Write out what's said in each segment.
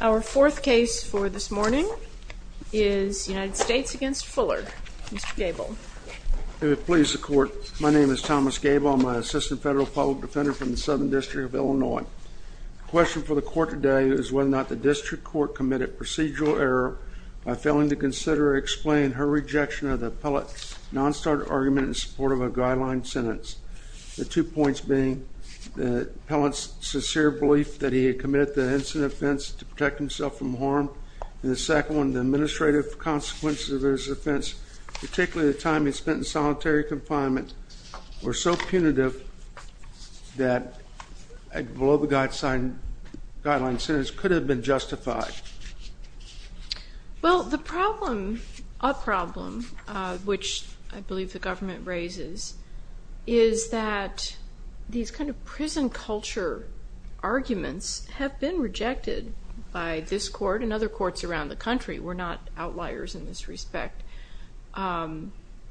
Our fourth case for this morning is United States v. Fuller, Mr. Gable. If it pleases the Court, my name is Thomas Gable. I'm an assistant federal public defender from the Southern District of Illinois. The question for the Court today is whether or not the District Court committed procedural error by failing to consider or explain her rejection of the appellant's non-starter argument in support of a guideline sentence. The two points being the appellant's sincere belief that he had committed the incident offense to protect himself from harm, and the second one, the administrative consequences of his offense, particularly the time he spent in solitary confinement, were so punitive that a below-the-guide guideline sentence could have been justified. Well, the problem, a problem, which I believe the government raises, is that these kind of prison culture arguments have been rejected by this Court and other courts around the country. We're not outliers in this respect,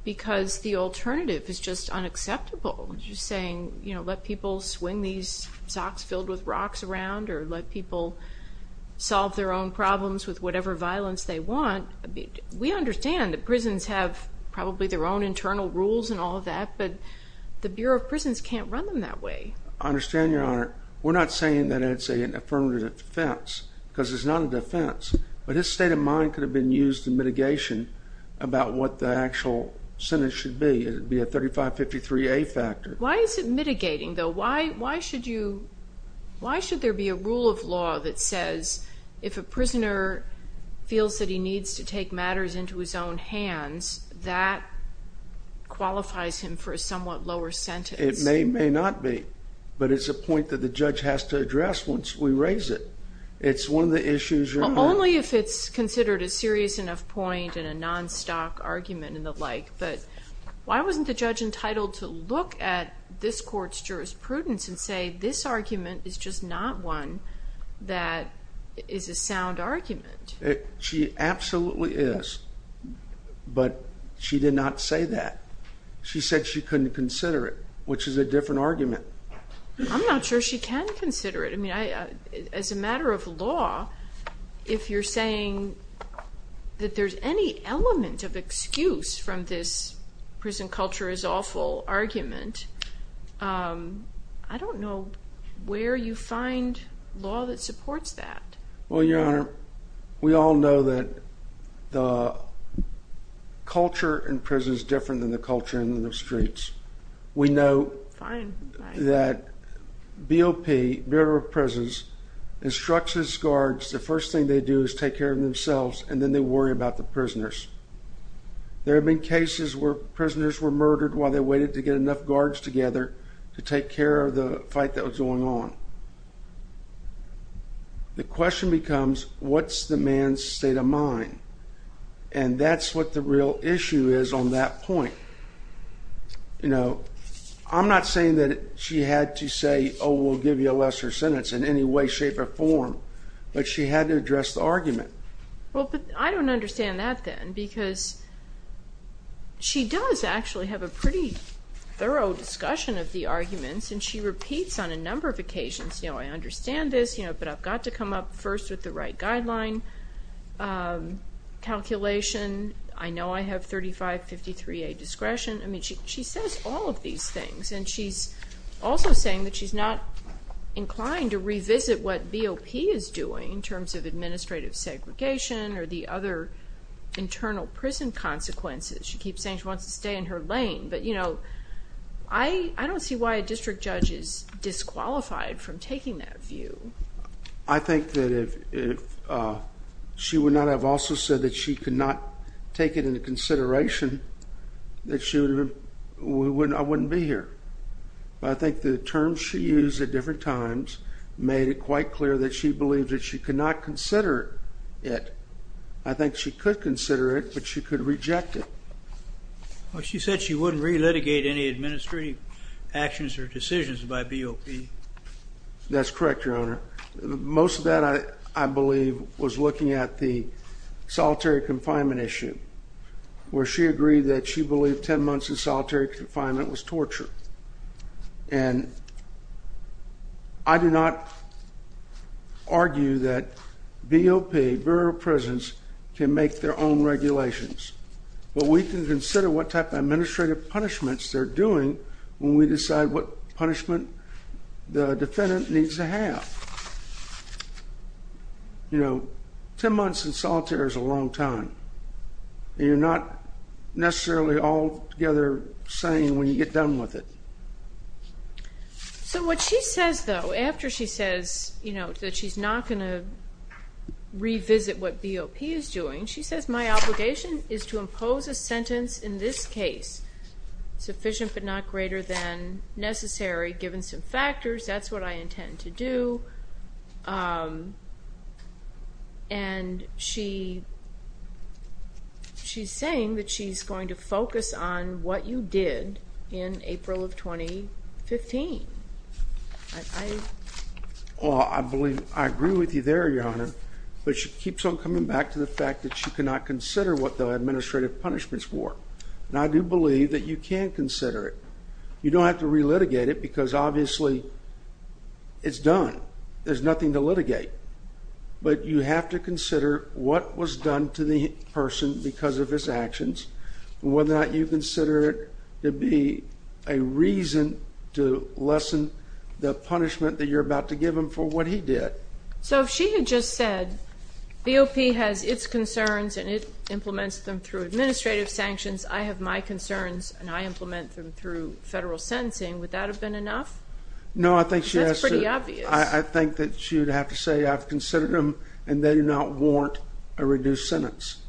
because the alternative is just unacceptable. Just saying, you know, let people swing these socks filled with rocks around, or let people solve their own problems with whatever violence they want. We understand that prisons have probably their own internal rules and all of that, but the Bureau of Prisons can't run them that way. I understand, Your Honor. We're not saying that it's an affirmative defense, because it's not a defense. But his state of mind could have been used in mitigation about what the actual sentence should be. It would be a 3553A factor. Why is it mitigating, though? Why should there be a rule of law that says if a prisoner feels that he needs to take matters into his own hands, that qualifies him for a somewhat lower sentence? It may or may not be, but it's a point that the judge has to address once we raise it. It's one of the issues, Your Honor. Only if it's considered a serious enough point and a non-stock argument and the like. But why wasn't the judge entitled to look at this court's jurisprudence and say this argument is just not one that is a sound argument? She absolutely is, but she did not say that. She said she couldn't consider it, which is a different argument. I'm not sure she can consider it. As a matter of law, if you're saying that there's any element of excuse from this prison culture is awful argument, I don't know where you find law that supports that. Well, Your Honor, we all know that the culture in prison is different than the culture in the streets. We know that BOP, Bureau of Prisons, instructs its guards, the first thing they do is take care of themselves, and then they worry about the prisoners. There have been cases where prisoners were murdered while they waited to get enough guards together to take care of the fight that was going on. The question becomes, what's the man's state of mind? And that's what the real issue is on that point. You know, I'm not saying that she had to say, oh, we'll give you a lesser sentence in any way, shape, or form, but she had to address the argument. Well, but I don't understand that then, because she does actually have a pretty thorough discussion of the arguments, and she repeats on a number of occasions, you know, I understand this, but I've got to come up first with the right guideline, calculation, I know I have 3553A discretion. I mean, she says all of these things, and she's also saying that she's not inclined to revisit what BOP is doing in terms of administrative segregation or the other internal prison consequences. She keeps saying she wants to stay in her lane, but, you know, I don't see why a district judge is disqualified from taking that view. I think that if she would not have also said that she could not take it into consideration, that I wouldn't be here. But I think the terms she used at different times made it quite clear that she believed that she could not consider it. I think she could consider it, but she could reject it. Well, she said she wouldn't relitigate any administrative actions or decisions by BOP. That's correct, Your Honor. Most of that, I believe, was looking at the solitary confinement issue, where she agreed that she believed 10 months in solitary confinement was torture. And I do not argue that BOP, Bureau of Prisons, can make their own regulations. But we can consider what type of administrative punishments they're doing when we decide what punishment the defendant needs to have. You know, 10 months in solitary is a long time, and you're not necessarily altogether sane when you get done with it. So what she says, though, after she says, you know, that she's not going to revisit what BOP is doing, she says, my obligation is to impose a sentence in this case, sufficient but not greater than necessary, given some factors, that's what I intend to do. And she's saying that she's going to focus on what you did in April of 2015. Well, I agree with you there, Your Honor. But she keeps on coming back to the fact that she cannot consider what the administrative punishments were. And I do believe that you can consider it. You don't have to relitigate it because, obviously, it's done. There's nothing to litigate. But you have to consider what was done to the person because of his actions, whether or not you consider it to be a reason to lessen the punishment that you're about to give him for what he did. So if she had just said, BOP has its concerns, and it implements them through administrative sanctions. I have my concerns, and I implement them through federal sentencing, would that have been enough? No, I think she has to. That's pretty obvious. I think that she would have to say, I've considered them, and they do not warrant a reduced sentence.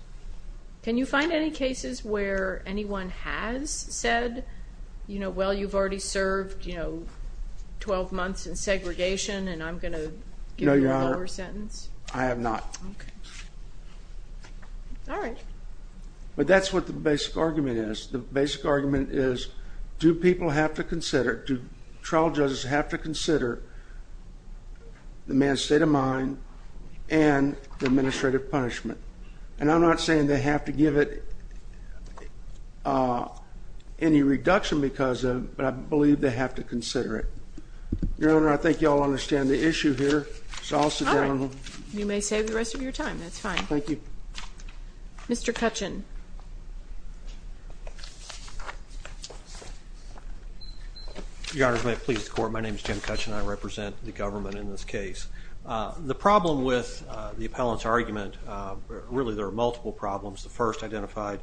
Can you find any cases where anyone has said, well, you've already served 12 months in segregation, and I'm going to give you a lower sentence? No, Your Honor. I have not. Okay. All right. But that's what the basic argument is. The basic argument is, do people have to consider, do trial judges have to consider the man's state of mind and the administrative punishment? And I'm not saying they have to give it any reduction because of it, but I believe they have to consider it. Your Honor, I think you all understand the issue here, so I'll sit down. All right. You may save the rest of your time. That's fine. Thank you. Mr. Kutchin. Your Honors, may it please the Court, my name is Jim Kutchin. I represent the government in this case. The problem with the appellant's argument, really there are multiple problems. The first identified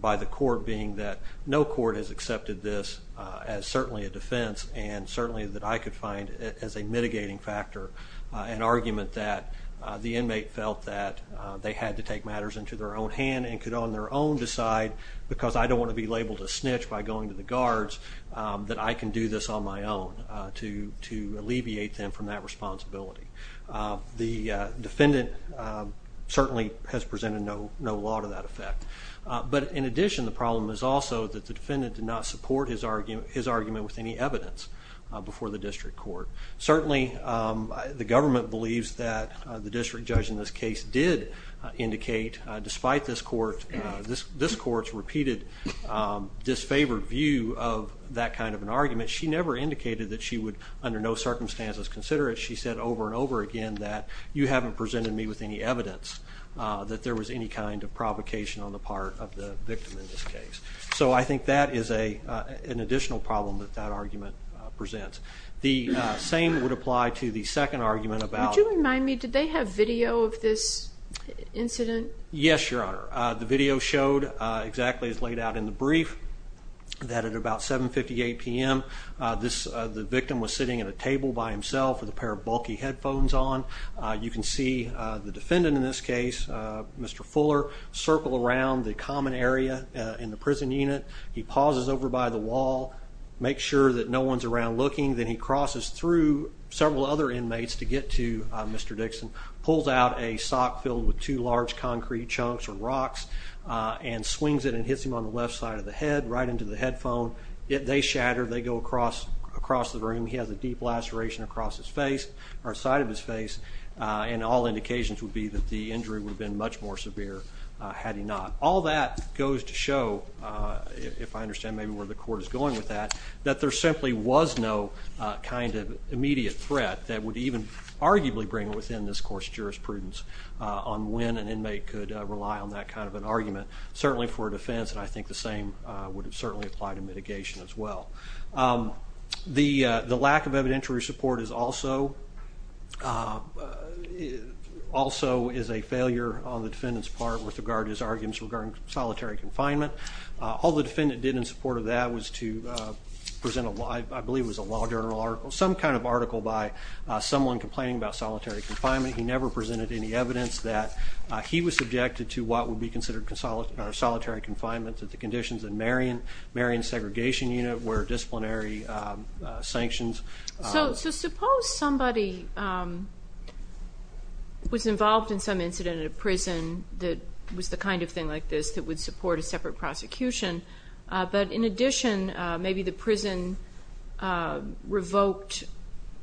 by the court being that no court has accepted this as certainly a defense and certainly that I could find as a mitigating factor an argument that the inmate felt that they had to take matters into their own hand and could on their own decide, because I don't want to be labeled a snitch by going to the guards, that I can do this on my own to alleviate them from that responsibility. The defendant certainly has presented no law to that effect. But in addition, the problem is also that the defendant did not support his argument with any evidence before the district court. Certainly, the government believes that the district judge in this case did indicate, despite this court's repeated disfavored view of that kind of an argument, she never indicated that she would under no circumstances consider it. She said over and over again that you haven't presented me with any evidence that there was any kind of provocation on the part of the victim in this case. So I think that is an additional problem that that argument presents. The same would apply to the second argument about- Yes, Your Honor. The video showed exactly as laid out in the brief that at about 7.58 p.m., the victim was sitting at a table by himself with a pair of bulky headphones on. You can see the defendant in this case, Mr. Fuller, circle around the common area in the prison unit. He pauses over by the wall, makes sure that no one's around looking. Then he crosses through several other inmates to get to Mr. Dixon, pulls out a sock filled with two large concrete chunks or rocks, and swings it and hits him on the left side of the head right into the headphone. They shatter. They go across the room. He has a deep laceration across his face or side of his face, and all indications would be that the injury would have been much more severe had he not. All that goes to show, if I understand maybe where the court is going with that, that there simply was no kind of immediate threat that would even arguably bring within this course jurisprudence on when an inmate could rely on that kind of an argument, certainly for a defense, and I think the same would certainly apply to mitigation as well. The lack of evidentiary support is also a failure on the defendant's part with regard to his arguments regarding solitary confinement. All the defendant did in support of that was to present, I believe it was a law journal article, some kind of article by someone complaining about solitary confinement. He never presented any evidence that he was subjected to what would be considered solitary confinement under the conditions of the Marion Segregation Unit where disciplinary sanctions. So suppose somebody was involved in some incident at a prison that was the kind of thing like this that would support a separate prosecution, but in addition, maybe the prison revoked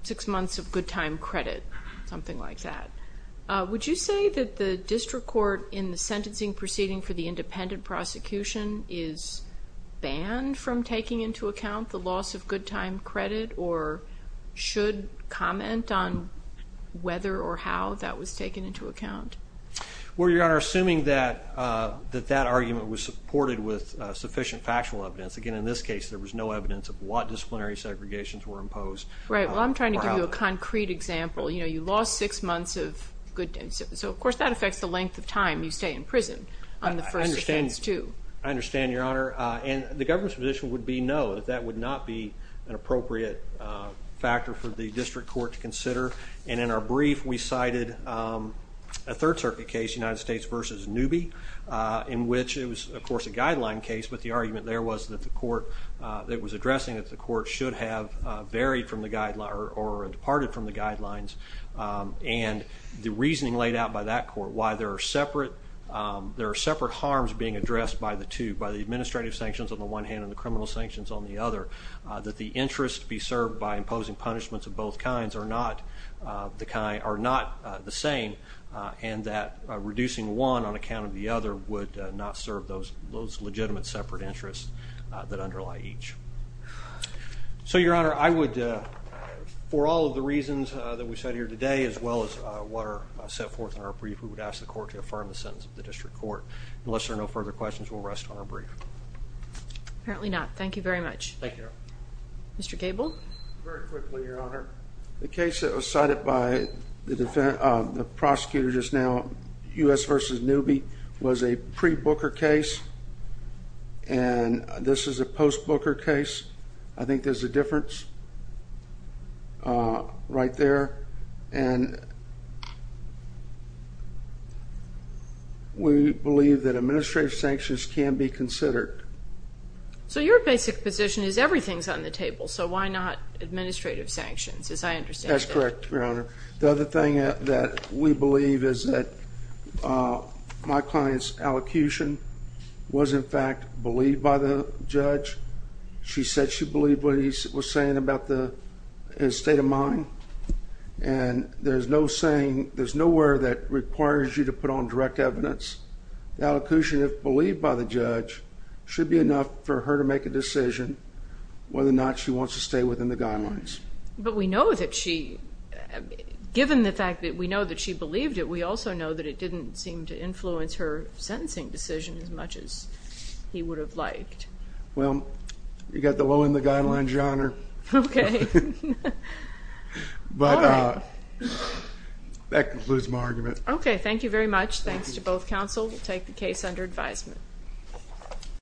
six months of good time credit, something like that. Would you say that the district court in the sentencing proceeding for the independent prosecution is banned from taking into account the loss of good time credit or should comment on whether or how that was taken into account? Well, Your Honor, assuming that that argument was supported with sufficient factual evidence. Again, in this case, there was no evidence of what disciplinary segregations were imposed. Right. Well, I'm trying to give you a concrete example. You know, you lost six months of good time. So, of course, that affects the length of time you stay in prison on the first offense too. I understand, Your Honor. And the government's position would be no, that that would not be an appropriate factor for the district court to consider. And in our brief, we cited a third circuit case, United States versus Newby, in which it was, of course, a guideline case. But the argument there was that the court that was addressing that the court should have varied from the guideline or departed from the guidelines. And the reasoning laid out by that court, why there are separate harms being addressed by the two, by the administrative sanctions on the one hand and the criminal sanctions on the other, that the interest be served by imposing punishments of both kinds are not the same and that reducing one on account of the other would not serve those legitimate separate interests that underlie each. So, Your Honor, I would, for all of the reasons that we cited here today, as well as what are set forth in our brief, we would ask the court to affirm the sentence of the district court. Unless there are no further questions, we'll rest on our brief. Apparently not. Thank you very much. Thank you, Your Honor. Mr. Gable? Very quickly, Your Honor. The case that was cited by the prosecutor just now, U.S. versus Newby, was a pre-Booker case. And this is a post-Booker case. I think there's a difference right there. And we believe that administrative sanctions can be considered. So your basic position is everything's on the table, so why not administrative sanctions, as I understand it? That's correct, Your Honor. The other thing that we believe is that my client's allocution was, in fact, believed by the judge. She said she believed what he was saying about the state of mind. And there's no saying, there's nowhere that requires you to put on direct evidence. The allocution, if believed by the judge, should be enough for her to make a decision whether or not she wants to stay within the guidelines. But we know that she, given the fact that we know that she believed it, we also know that it didn't seem to influence her sentencing decision as much as he would have liked. Well, you've got the will and the guidelines, Your Honor. Okay. But that concludes my argument. Okay, thank you very much. Thanks to both counsel. We'll take the case under advisement.